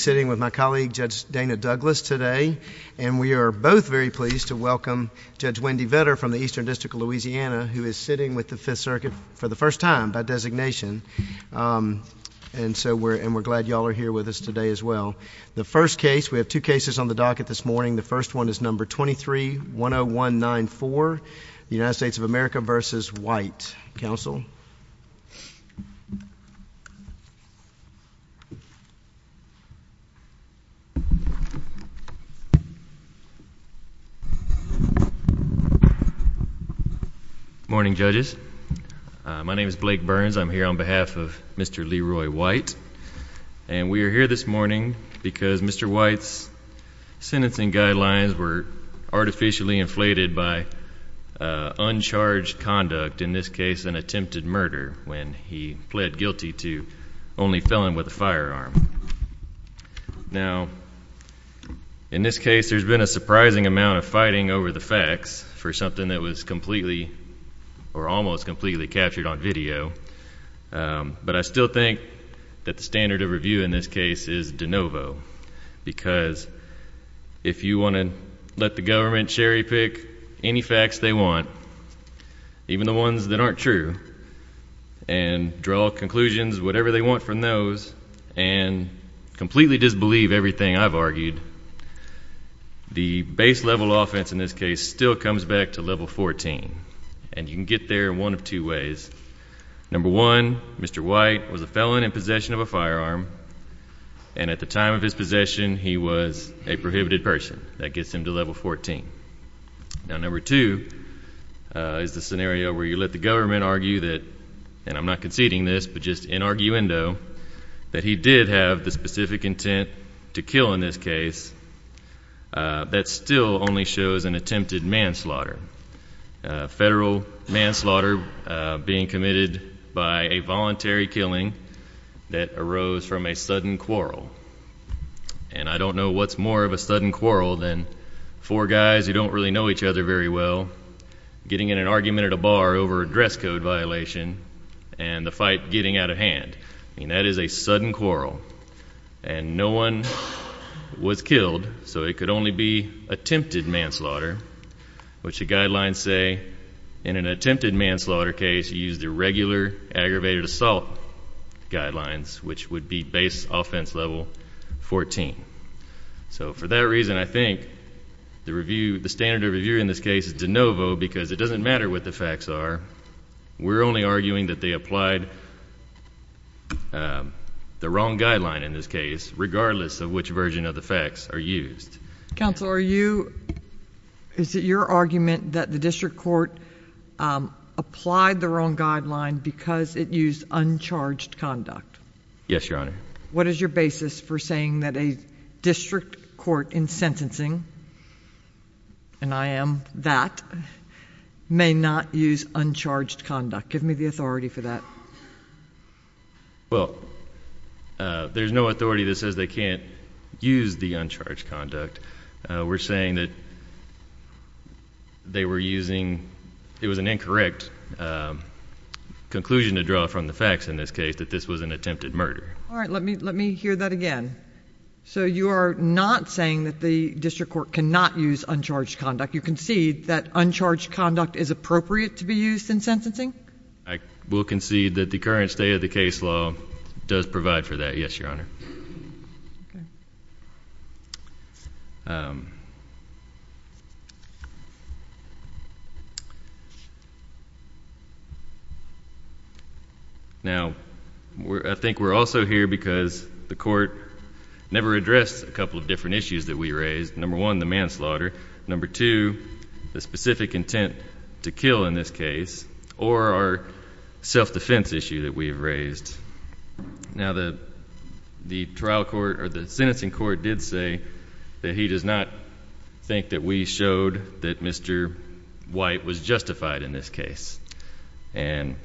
sitting with my colleague Judge Dana Douglas today, and we are both very pleased to welcome Judge Wendy Vetter from the Eastern District of Louisiana, who is sitting with the Fifth Circuit for the first time by designation, and so we're glad y'all are here with us today as well. The first case, we have two cases on the docket this morning, the first one is number 23-10194, the United States of America v. White, counsel. Morning judges. My name is Blake Burns, I'm here on behalf of Mr. Leroy White, and we are here this morning Mr. White's sentencing guidelines were artificially inflated by uncharged conduct, in this case an attempted murder, when he pled guilty to only felon with a firearm. Now in this case, there's been a surprising amount of fighting over the facts for something that was completely or almost completely captured on video, but I still think that the standard of review in this case is de novo, because if you want to let the government cherry pick any facts they want, even the ones that aren't true, and draw conclusions, whatever they want from those, and completely disbelieve everything I've argued, the base level offense in this case still comes back to level 14, and you can get there in one of two ways. Number one, Mr. White was a felon in possession of a firearm, and at the time of his possession he was a prohibited person, that gets him to level 14. Now number two, is the scenario where you let the government argue that, and I'm not conceding this, but just in arguendo, that he did have the specific intent to kill in this case, that still only shows an attempted manslaughter. Federal manslaughter being committed by a voluntary killing that arose from a sudden quarrel, and I don't know what's more of a sudden quarrel than four guys who don't really know each other very well, getting in an argument at a bar over a dress code violation, and the fight getting out of hand. That is a sudden quarrel, and no one was killed, so it could only be attempted manslaughter, which the guidelines say, in an attempted manslaughter case, you use the regular aggravated assault guidelines, which would be base offense level 14. So for that reason, I think the standard of review in this case is de novo, because it doesn't matter what the facts are, we're only arguing that they applied the wrong guideline in this case, regardless of which version of the facts are used. Counsel, are you, is it your argument that the district court applied the wrong guideline because it used uncharged conduct? Yes, Your Honor. What is your basis for saying that a district court in sentencing, and I am that, may not use uncharged conduct? Give me the authority for that. Well, there's no authority that says they can't use the uncharged conduct. We're saying that they were using, it was an incorrect conclusion to draw from the facts in this case, that this was an attempted murder. All right, let me hear that again. So you are not saying that the district court cannot use uncharged conduct. You concede that uncharged conduct is appropriate to be used in sentencing? I will concede that the current state of the case law does provide for that, yes, Your Honor. Okay. Now, I think we're also here because the court never addressed a couple of different issues that we raised. Number one, the manslaughter. Number two, the specific intent to kill in this case, or our self-defense issue that we have raised. Now the trial court, or the sentencing court, did say that he does not think that we showed that Mr. White was justified in this case. And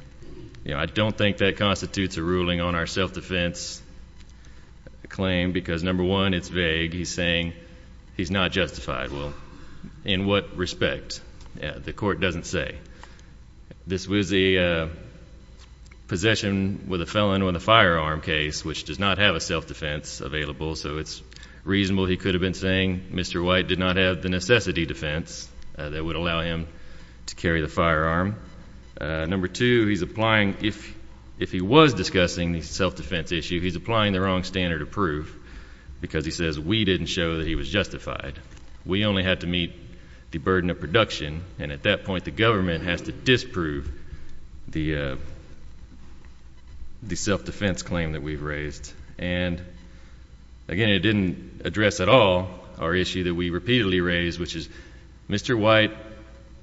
I don't think that constitutes a ruling on our self-defense claim because number one, it's vague. He's saying he's not justified. Well, in what respect? The court doesn't say. This was a possession with a felon on a firearm case, which does not have a self-defense available, so it's reasonable he could have been saying Mr. White did not have the necessity defense that would allow him to carry the firearm. Number two, he's applying, if he was discussing the self-defense issue, he's applying the wrong standard of proof because he says we didn't show that he was justified. We only had to meet the burden of production, and at that point, the government has to disprove the self-defense claim that we've raised. And again, it didn't address at all our issue that we repeatedly raise, which is Mr. White,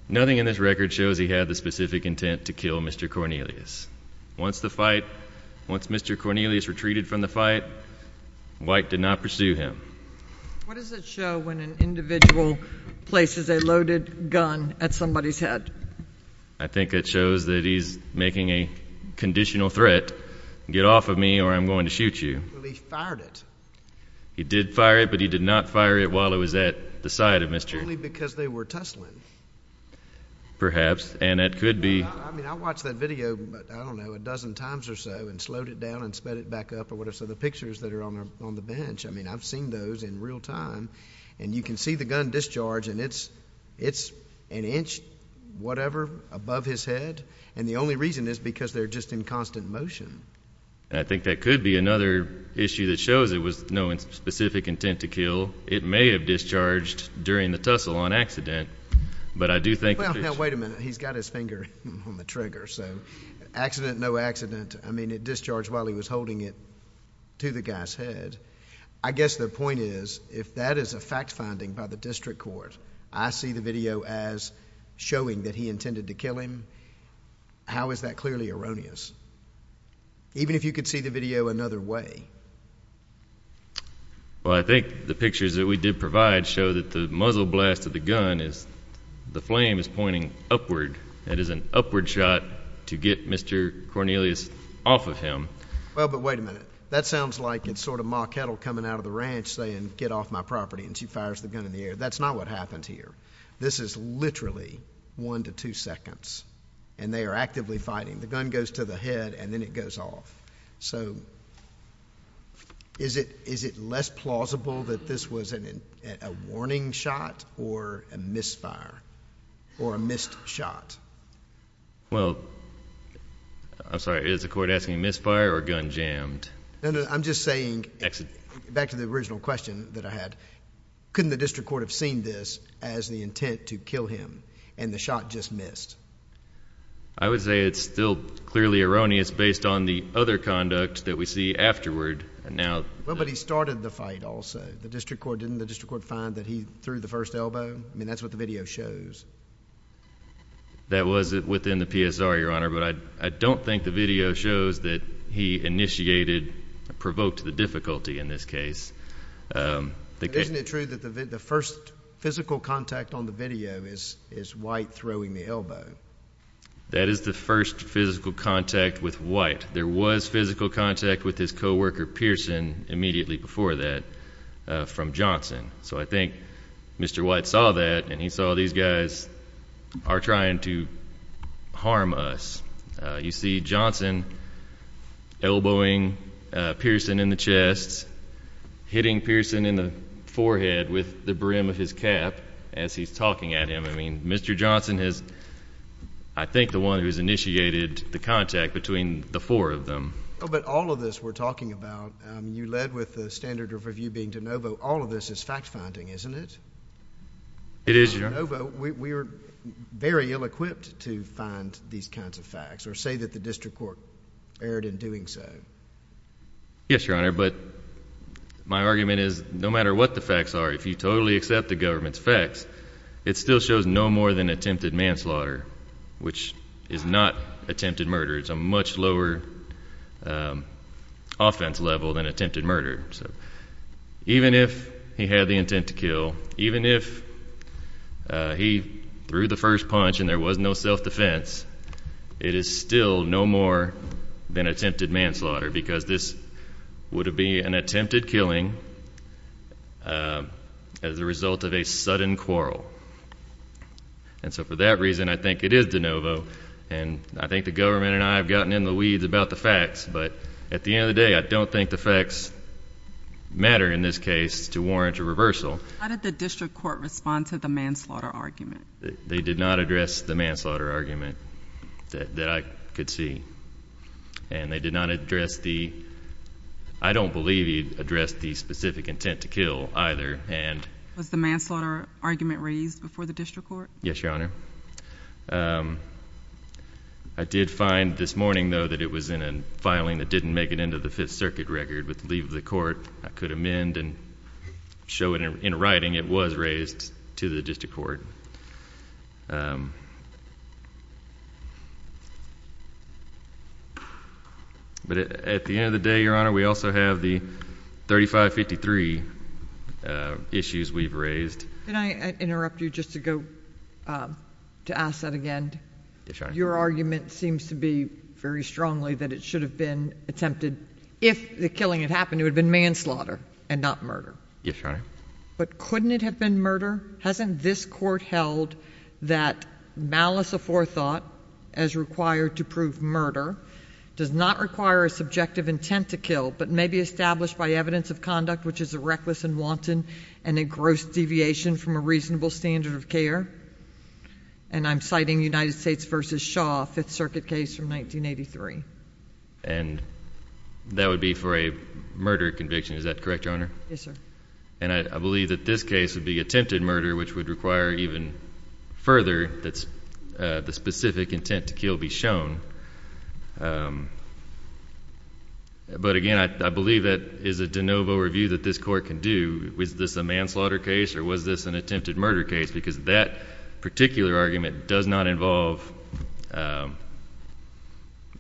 nothing in this record shows he had the specific intent to kill Mr. Cornelius. Once the fight, once Mr. Cornelius retreated from the fight, White did not pursue him. What does it show when an individual places a loaded gun at somebody's head? I think it shows that he's making a conditional threat, get off of me or I'm going to shoot you. Well, he fired it. He did fire it, but he did not fire it while it was at the side of Mr. Only because they were tussling. Perhaps, and it could be. I mean, I watched that video, I don't know, a dozen times or so, and slowed it down and sped it back up or whatever, so the pictures that are on the bench, I mean, I've seen those in real time, and you can see the gun discharge, and it's an inch, whatever, above his head, and the only reason is because they're just in constant motion. I think that could be another issue that shows it was no specific intent to kill. It may have discharged during the tussle on accident, but I do think— No, wait a minute. He's got his finger on the trigger, so accident, no accident, I mean, it discharged while he was holding it to the guy's head. I guess the point is, if that is a fact-finding by the district court, I see the video as showing that he intended to kill him, how is that clearly erroneous? Even if you could see the video another way? Well, I think the pictures that we did provide show that the muzzle blast of the gun is, the flame is pointing upward. It is an upward shot to get Mr. Cornelius off of him. Well, but wait a minute. That sounds like it's sort of Ma Kettle coming out of the ranch saying, get off my property, and she fires the gun in the air. That's not what happened here. This is literally one to two seconds, and they are actively fighting. The gun goes to the head, and then it goes off. So, is it less plausible that this was a warning shot or a misfire, or a missed shot? Well, I'm sorry, is the court asking misfire or gun jammed? No, no, I'm just saying, back to the original question that I had, couldn't the district court have seen this as the intent to kill him, and the shot just missed? I would say it's still clearly erroneous based on the other conduct that we see afterward. Well, but he started the fight also. The district court, didn't the district court find that he threw the first elbow? I mean, that's what the video shows. That was within the PSR, Your Honor, but I don't think the video shows that he initiated, provoked the difficulty in this case. Isn't it true that the first physical contact on the video is White throwing the elbow? That is the first physical contact with White. There was physical contact with his co-worker, Pearson, immediately before that, from Johnson. So I think Mr. White saw that, and he saw these guys are trying to harm us. You see Johnson elbowing Pearson in the chest, hitting Pearson in the forehead with the brim of his cap as he's talking at him. I mean, Mr. Johnson is, I think, the one who has initiated the contact between the four of them. Oh, but all of this we're talking about, you led with the standard of review being DeNovo. All of this is fact-finding, isn't it? It is, Your Honor. DeNovo, we are very ill-equipped to find these kinds of facts or say that the district court erred in doing so. Yes, Your Honor, but my argument is no matter what the facts are, if you totally accept the government's facts, it still shows no more than attempted manslaughter, which is not attempted murder. It's a much lower offense level than attempted murder. So even if he had the intent to kill, even if he threw the first punch and there was no self-defense, it is still no more than attempted manslaughter because this would have been an attempted killing as a result of a sudden quarrel. And so for that reason, I think it is DeNovo, and I think the government and I have gotten in the weeds about the facts, but at the end of the day, I don't think the facts matter in this case to warrant a reversal. How did the district court respond to the manslaughter argument? They did not address the manslaughter argument that I could see. And they did not address the, I don't believe he addressed the specific intent to kill either, and Was the manslaughter argument raised before the district court? Yes, Your Honor. I did find this morning, though, that it was in a filing that didn't make it into the Fifth Circuit record. With the leave of the court, I could amend and show in writing it was raised to the district court. But at the end of the day, Your Honor, we also have the 3553 issues we've raised. Can I interrupt you just to go to ask that again? Your argument seems to be very strongly that it should have been attempted if the killing had happened, it would have been manslaughter and not murder. But couldn't it have been murder? Hasn't this court held that malice aforethought as required to prove murder does not require a subjective intent to kill, but may be established by evidence of conduct, which is a reckless and wanton and a gross deviation from a reasonable standard of care? And I'm citing United States v. Shaw, Fifth Circuit case from 1983. And that would be for a murder conviction, is that correct, Your Honor? Yes, sir. And I believe that this case would be attempted murder, which would require even further that the specific intent to kill be shown. But, again, I believe that is a de novo review that this court can do. Was this a manslaughter case or was this an attempted murder case? Because that particular argument does not involve a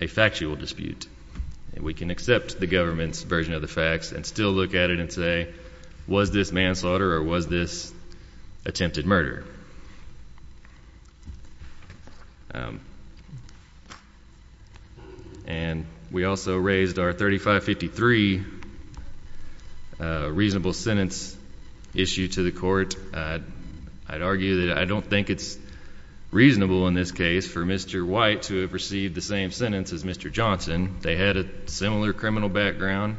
factual dispute. We can accept the government's version of the facts and still look at it and say, was this manslaughter or was this attempted murder? And we also raised our 3553 reasonable sentence issue to the court. I'd argue that I don't think it's reasonable in this case for Mr. White to have received the same sentence as Mr. Johnson. They had a similar criminal background.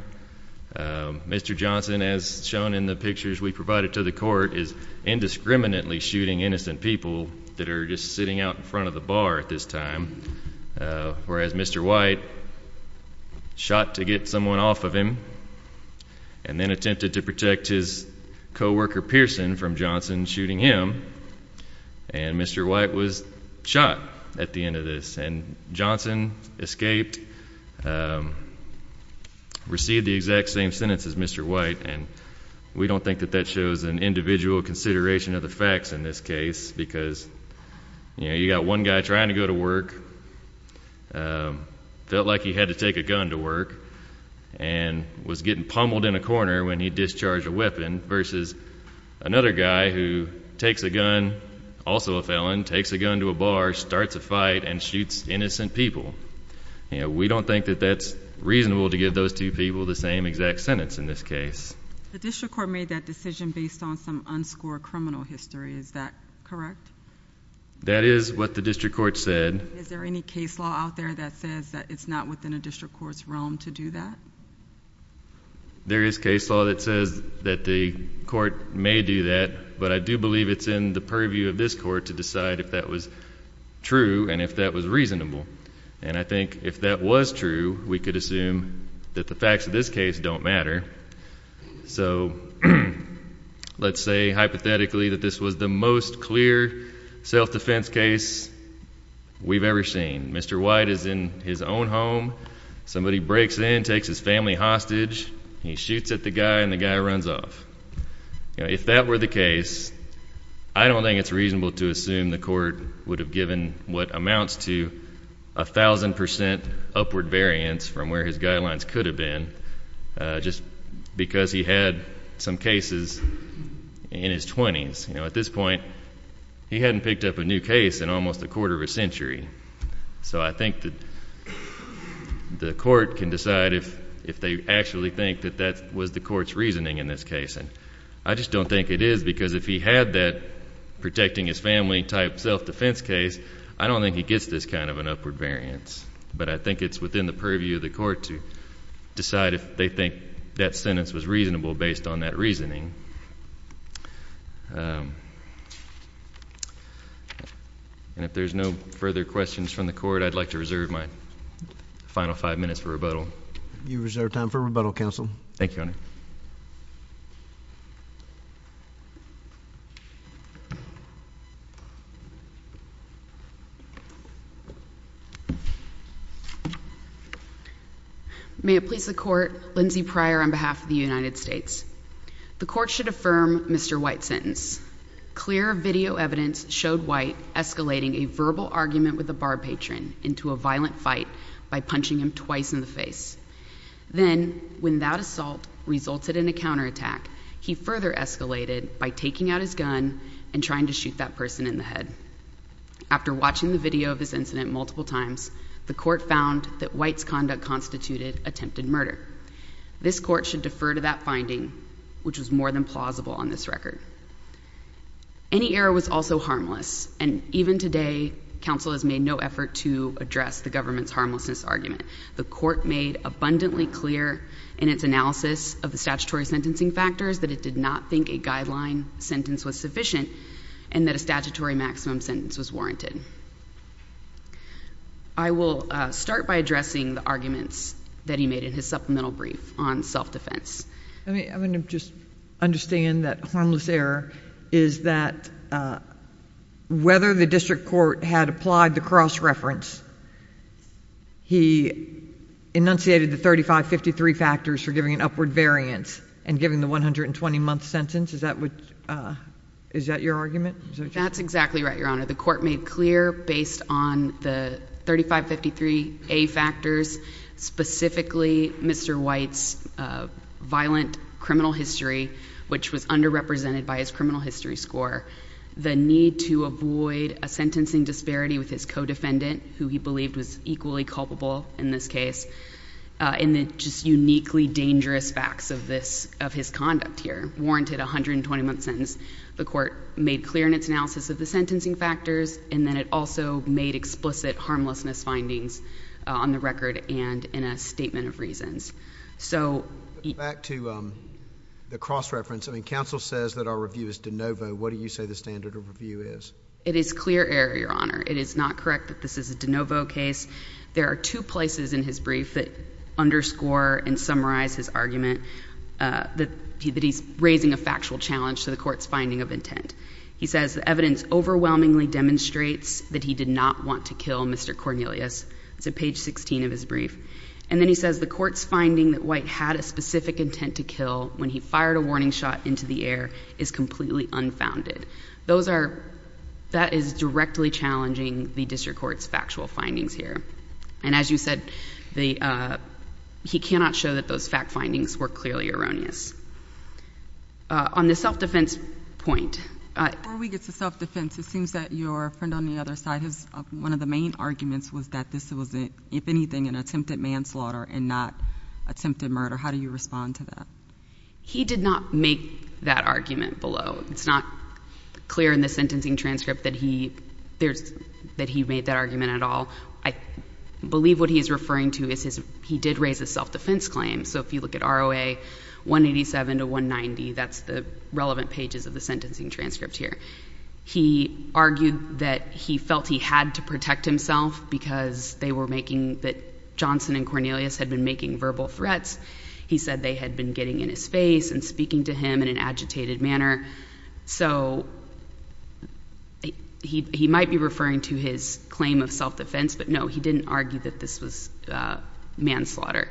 Mr. Johnson, as shown in the pictures we provided to the court, is indiscriminately shooting innocent people that are just sitting out in front of the bar at this time, whereas Mr. White shot to get someone off of him and then attempted to protect his coworker, Pearson, from Johnson shooting him. And Mr. White was shot at the end of this. And Johnson escaped, received the exact same sentence as Mr. White, and we don't think that that shows an individual consideration of the facts in this case because, you know, you got one guy trying to go to work, felt like he had to take a gun to work, and was getting pummeled in a corner when he discharged a weapon, versus another guy who takes a gun, also a felon, takes a gun to a bar, starts a fight, and shoots innocent people. We don't think that that's reasonable to give those two people the same exact sentence in this case. The district court made that decision based on some unscored criminal history. Is that correct? That is what the district court said. Is there any case law out there that says that it's not within a district court's realm to do that? There is case law that says that the court may do that, but I do believe it's in the purview of this court to decide if that was true and if that was reasonable. And I think if that was true, we could assume that the facts of this case don't matter. So let's say, hypothetically, that this was the most clear self-defense case we've ever seen. And Mr. White is in his own home, somebody breaks in, takes his family hostage, he shoots at the guy, and the guy runs off. If that were the case, I don't think it's reasonable to assume the court would have given what amounts to 1,000 percent upward variance from where his guidelines could have been just because he had some cases in his 20s. At this point, he hadn't picked up a new case in almost a quarter of a century. So I think the court can decide if they actually think that that was the court's reasoning in this case. And I just don't think it is, because if he had that protecting his family type self-defense case, I don't think he gets this kind of an upward variance. But I think it's within the purview of the court to decide if they think that sentence was reasonable based on that reasoning. And if there's no further questions from the court, I'd like to reserve my final five minutes for rebuttal. You reserve time for rebuttal, counsel. Thank you, Your Honor. May it please the court, Lindsay Pryor on behalf of the United States. The court should affirm Mr. White's sentence. Clear video evidence showed White escalating a verbal argument with a bar patron into a violent fight by punching him twice in the face. Then, when that assault resulted in a counterattack, he further escalated by taking out his gun and trying to shoot that person in the head. After watching the video of this incident multiple times, the court found that White's conduct constituted attempted murder. This court should defer to that finding, which was more than plausible on this record. Any error was also harmless, and even today, counsel has made no effort to address the government's harmlessness argument. The court made abundantly clear in its analysis of the statutory sentencing factors that it did not think a guideline sentence was sufficient and that a statutory maximum sentence was warranted. I will start by addressing the arguments that he made in his supplemental brief on self-defense. I mean, I'm going to just understand that harmless error is that whether the district court had applied the cross-reference, he enunciated the 3553 factors for giving an upward variance and giving the 120-month sentence. Is that your argument? That's exactly right, Your Honor. The court made clear, based on the 3553A factors, specifically Mr. White's violent criminal history, which was underrepresented by his criminal history score, the need to avoid a sentencing disparity with his co-defendant, who he believed was equally culpable in this case, and the just uniquely dangerous facts of his conduct here warranted a 120-month sentence. The court made clear in its analysis of the sentencing factors, and then it also made explicit harmlessness findings on the record and in a statement of reasons. So — Back to the cross-reference, I mean, counsel says that our review is de novo. What do you say the standard of review is? It is clear error, Your Honor. It is not correct that this is a de novo case. There are two places in his brief that underscore and summarize his argument that he's raising a factual challenge to the court's finding of intent. He says the evidence overwhelmingly demonstrates that he did not want to kill Mr. Cornelius. It's at page 16 of his brief. And then he says the court's finding that White had a specific intent to kill when he fired a warning shot into the air is completely unfounded. Those are — that is directly challenging the district court's factual findings here. And as you said, the — he cannot show that those fact findings were clearly erroneous. On the self-defense point — Before we get to self-defense, it seems that your friend on the other side has — one of the main arguments was that this was, if anything, an attempted manslaughter and not attempted murder. How do you respond to that? He did not make that argument below. It's not clear in the sentencing transcript that he — that he made that argument at all. I believe what he's referring to is his — he did raise a self-defense claim. So if you look at ROA 187 to 190, that's the relevant pages of the sentencing transcript here. He argued that he felt he had to protect himself because they were making — that Johnson and Cornelius had been making verbal threats. He said they had been getting in his face and speaking to him in an agitated manner. So he might be referring to his claim of self-defense, but no, he didn't argue that this was manslaughter.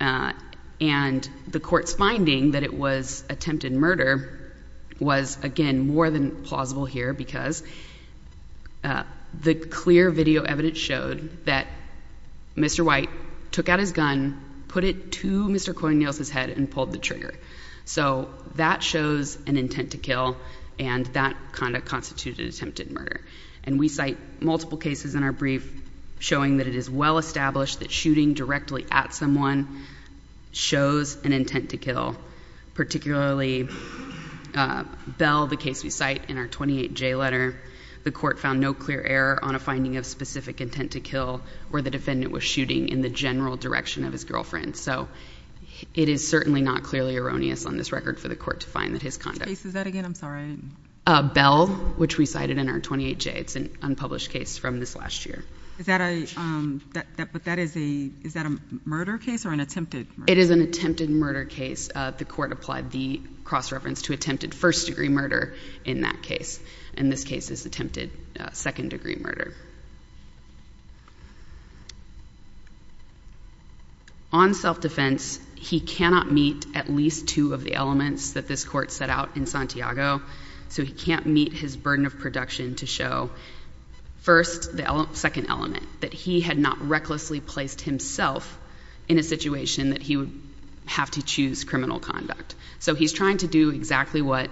And the court's finding that it was attempted murder was, again, more than plausible here because the clear video evidence showed that Mr. White took out his gun, put it to Mr. Cornelius' head, and pulled the trigger. So that shows an intent to kill, and that kind of constituted attempted murder. And we cite multiple cases in our brief showing that it is well-established that shooting directly at someone shows an intent to kill, particularly Bell, the case we cite in our 28J letter. The court found no clear error on a finding of specific intent to kill where the defendant was shooting in the general direction of his girlfriend. So it is certainly not clearly erroneous on this record for the court to find that his conduct — What case is that again? I'm sorry. Bell, which we cited in our 28J. It's an unpublished case from this last year. Is that a — but that is a — is that a murder case or an attempted murder? It is an attempted murder case. The court applied the cross-reference to attempted first-degree murder in that case. And this case is attempted second-degree murder. On self-defense, he cannot meet at least two of the elements that this court set out in Santiago. So he can't meet his burden of production to show, first, the second element, that he had not recklessly placed himself in a situation that he would have to choose criminal conduct. So he's trying to do exactly what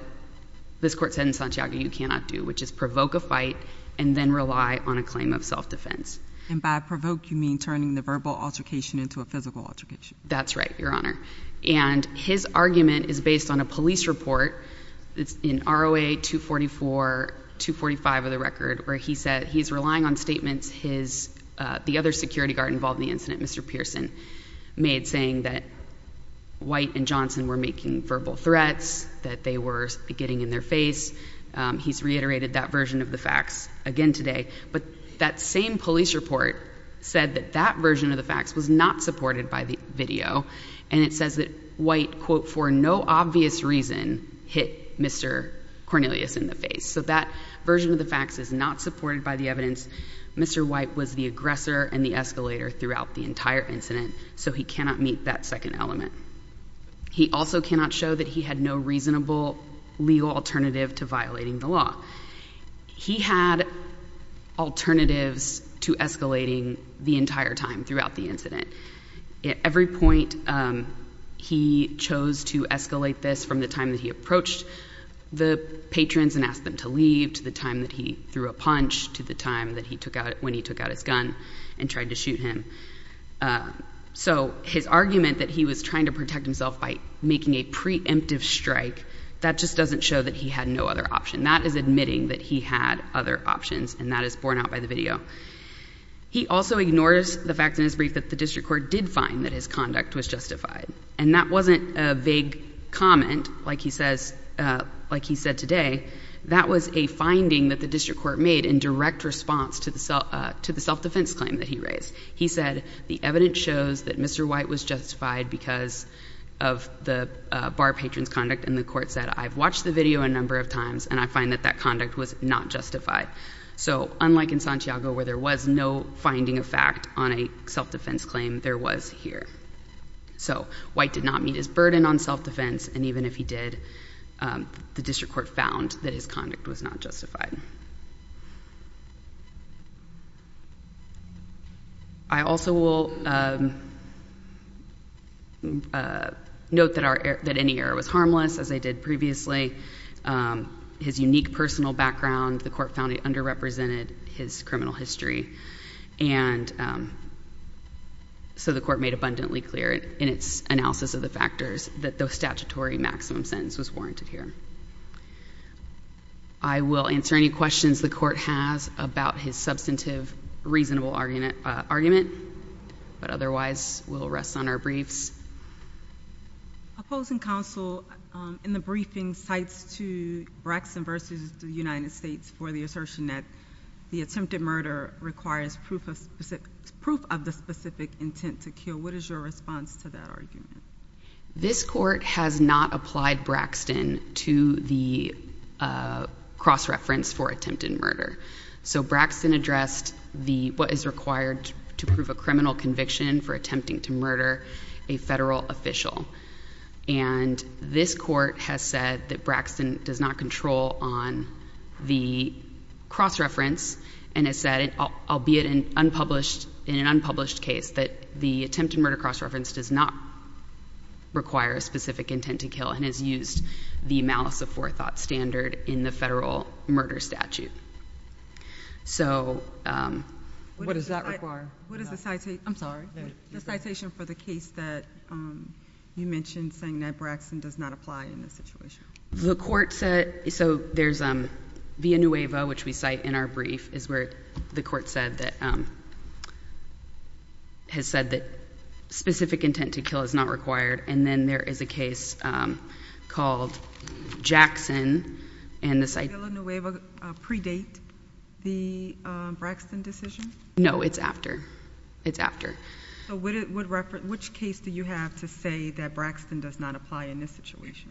this court said in Santiago you cannot do, which is provoke a fight and then rely on a claim of self-defense. And by provoke, you mean turning the verbal altercation into a physical altercation? That's right, Your Honor. And his argument is based on a police report. It's in ROA 244, 245 of the record, where he said he's relying on statements his — the other security guard involved in the incident, Mr. Pearson, made saying that White and Johnson were making verbal threats, that they were getting in their face. He's reiterated that version of the facts again today. But that same police report said that that version of the facts was not supported by the video. And it says that White, quote, for no obvious reason, hit Mr. Cornelius in the face. So that version of the facts is not supported by the evidence. Mr. White was the aggressor and the escalator throughout the entire incident, so he cannot meet that second element. He also cannot show that he had no reasonable legal alternative to violating the law. He had alternatives to escalating the entire time throughout the incident. At every point, he chose to escalate this from the time that he approached the patrons and asked them to leave, to the time that he threw a punch, to the time that he took out — when he took out his gun and tried to shoot him. So his argument that he was trying to protect himself by making a preemptive strike, that just doesn't show that he had no other option. That is admitting that he had other options, and that is borne out by the video. He also ignores the fact in his brief that the district court did find that his conduct was justified. And that wasn't a vague comment, like he says — like he said today. That was a finding that the district court made in direct response to the self-defense claim that he raised. He said, the evidence shows that Mr. White was justified because of the bar patron's conduct, and the court said, I've watched the video a number of times, and I find that that conduct was not justified. So unlike in Santiago, where there was no finding of fact on a self-defense claim, there was here. So White did not meet his burden on self-defense, and even if he did, the district court found that his conduct was not justified. I also will note that any error was harmless, as I did previously. His unique personal background, the court found it underrepresented his criminal history. And so the court made abundantly clear in its analysis of the factors that the statutory maximum sentence was warranted here. I will answer any questions the court has about his substantive, reasonable argument, but otherwise we'll rest on our briefs. Opposing counsel, in the briefing, cites to Braxton versus the United States for the assertion that the attempted murder requires proof of the specific intent to kill. What is your response to that argument? This court has not applied Braxton to the cross-reference for attempted murder. So Braxton addressed what is required to prove a criminal conviction for attempting to murder a federal official. And this court has said that Braxton does not control on the cross-reference and has said, albeit in an unpublished case, that the attempted murder cross-reference does not require a specific intent to kill and has used the malice of forethought standard in the federal murder statute. So what does that require? What is the citation for the case that you mentioned saying that Braxton does not apply in this situation? The court said, so there's Villanueva, which we cite in our brief, is where the court has said that specific intent to kill is not required. And then there is a case called Jackson and the citation— Does Villanueva predate the Braxton decision? No, it's after. So which case do you have to say that Braxton does not apply in this situation?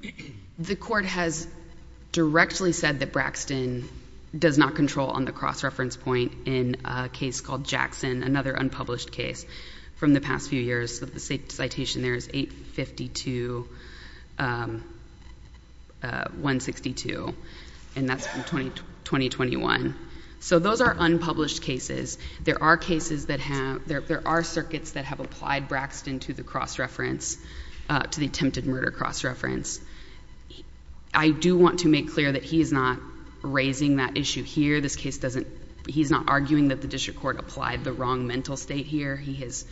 The court has directly said that Braxton does not control on the cross-reference point in a case called Jackson, another unpublished case from the past few years. So the citation there is 852-162, and that's from 2021. So those are unpublished cases. There are cases that have—there are circuits that have applied Braxton to the cross-reference, to the attempted murder cross-reference. I do want to make clear that he is not raising that issue here. This case doesn't—he's not arguing that the district court applied the wrong mental state here. He has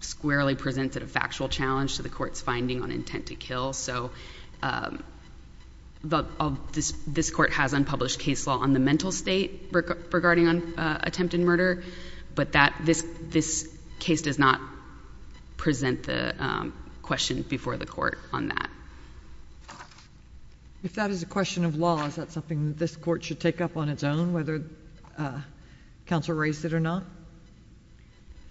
squarely presented a factual challenge to the court's finding on intent to kill. So this court has unpublished case law on the mental state regarding attempted murder, but that—this case does not present the question before the court on that. If that is a question of law, is that something that this court should take up on its own, whether counsel raised it or not?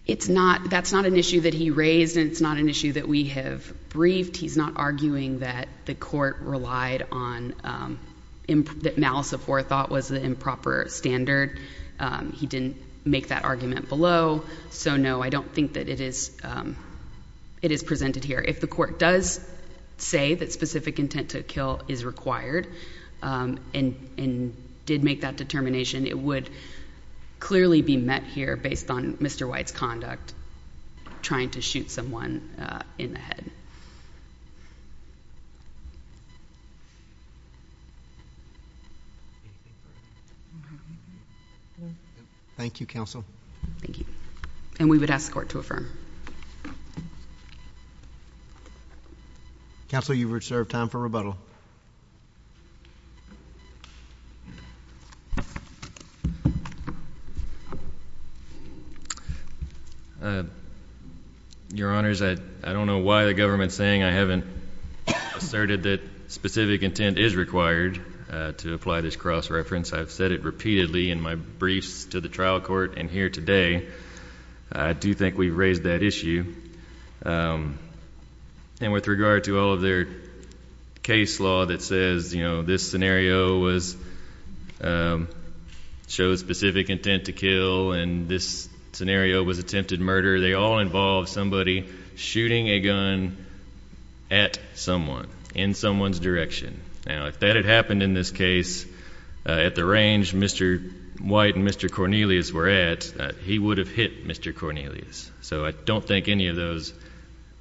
It's not—that's not an issue that he raised, and it's not an issue that we have briefed. He's not arguing that the court relied on—that malice of forethought was the improper standard. He didn't make that argument below. So no, I don't think that it is—it is presented here. If the court does say that specific intent to kill is required and did make that determination, it would clearly be met here based on Mr. White's conduct, trying to shoot someone in the head. Thank you, counsel. Thank you. And we would ask the court to affirm. Counsel, you've reserved time for rebuttal. Your Honors, I don't know why the government is saying I haven't asserted that specific intent is required to apply this cross-reference. I've said it repeatedly in my briefs to the trial court and here today. I do think we've raised that issue. And with regard to all of their case law that says, you know, this scenario was—shows specific intent to kill and this scenario was attempted murder, they all involve somebody shooting a gun at someone in someone's direction. Now, if that had happened in this case at the range Mr. White and Mr. Cornelius were at, he would have hit Mr. Cornelius. So, I don't think any of those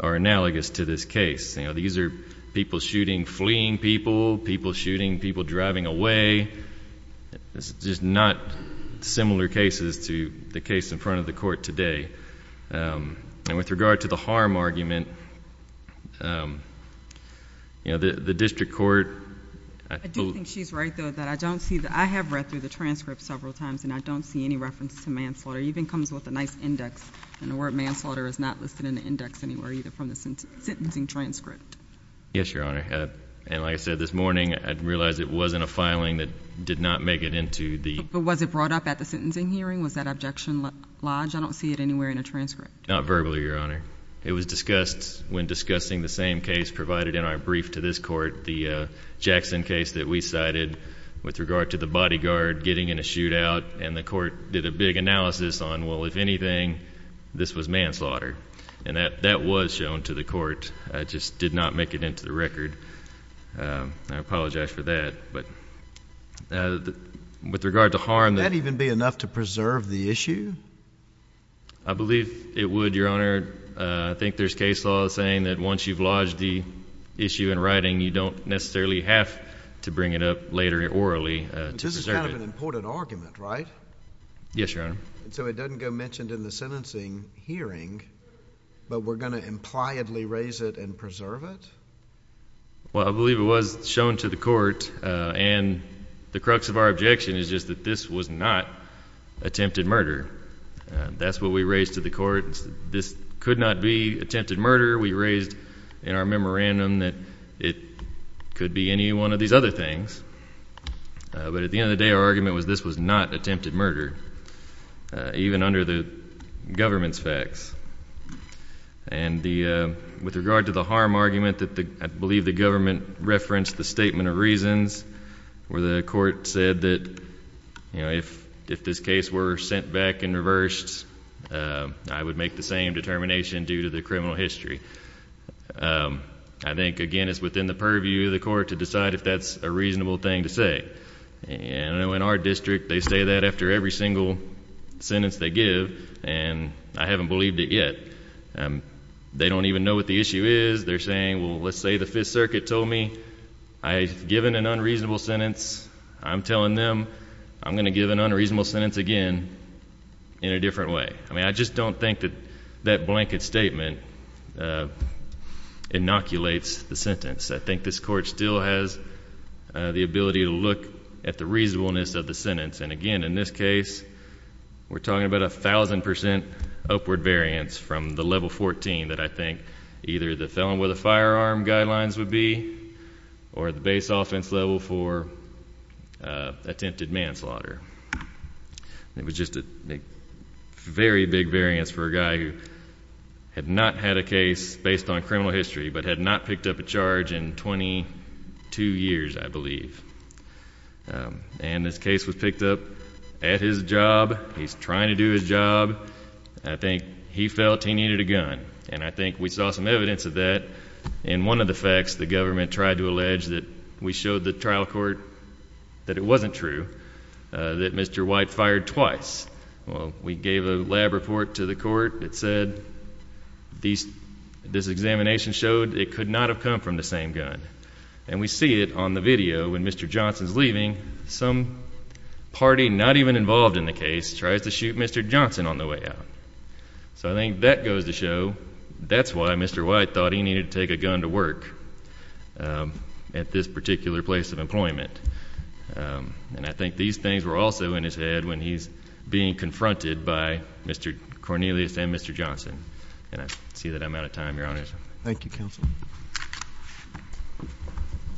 are analogous to this case. You know, these are people shooting, fleeing people, people shooting, people driving away. It's just not similar cases to the case in front of the court today. And with regard to the harm argument, you know, the district court— I do think she's right, though, that I don't see—I have read through the transcript several times and I don't see any reference to manslaughter. It even comes with a nice index and the word manslaughter is not listed in the index anywhere either from the sentencing transcript. Yes, Your Honor. And like I said this morning, I realize it wasn't a filing that did not make it into the— But was it brought up at the sentencing hearing? Was that objection lodged? I don't see it anywhere in the transcript. Not verbally, Your Honor. It was discussed when discussing the same case provided in our brief to this court, the Jackson case that we cited with regard to the bodyguard getting in a shootout and the court did a big analysis on, well, if anything, this was manslaughter. And that was shown to the court. It just did not make it into the record. I apologize for that. But with regard to harm— Would that even be enough to preserve the issue? I believe it would, Your Honor. I think there's case law saying that once you've lodged the issue in writing, you don't necessarily have to bring it up later orally to preserve it. That's an important argument, right? Yes, Your Honor. And so it doesn't go mentioned in the sentencing hearing, but we're going to impliedly raise it and preserve it? Well, I believe it was shown to the court. And the crux of our objection is just that this was not attempted murder. That's what we raised to the court. This could not be attempted murder. We raised in our memorandum that it could be any one of these other things. But at the end of the day, our argument was this was not attempted murder, even under the government's facts. And with regard to the harm argument, I believe the government referenced the statement of reasons where the court said that if this case were sent back and reversed, I would make the same determination due to the criminal history. I think, again, it's within the purview of the court to decide if that's a reasonable thing to say. And I know in our district, they say that after every single sentence they give, and I haven't believed it yet. They don't even know what the issue is. They're saying, well, let's say the Fifth Circuit told me I've given an unreasonable sentence. I'm telling them I'm going to give an unreasonable sentence again in a different way. I mean, I just don't think that that blanket statement inoculates the sentence. I think this court still has the ability to look at the reasonableness of the sentence. And again, in this case, we're talking about a thousand percent upward variance from the level 14 that I think either the felon with a firearm guidelines would be or the base offense level for attempted manslaughter. It was just a very big variance for a guy who had not had a case based on criminal history but had not picked up a charge in 22 years, I believe. And this case was picked up at his job. He's trying to do his job. I think he felt he needed a gun. And I think we saw some evidence of that in one of the facts the government tried to allege that we showed the trial court that it wasn't true, that Mr. White fired twice. Well, we gave a lab report to the court that said this examination showed it could not have come from the same gun. And we see it on the video when Mr. Johnson's leaving. Some party not even involved in the case tries to shoot Mr. Johnson on the way out. So I think that goes to show that's why Mr. White thought he needed to take a gun to work. At this particular place of employment. And I think these things were also in his head when he's being confronted by Mr. Cornelius and Mr. Johnson. And I see that I'm out of time, Your Honor. Thank you, Counsel.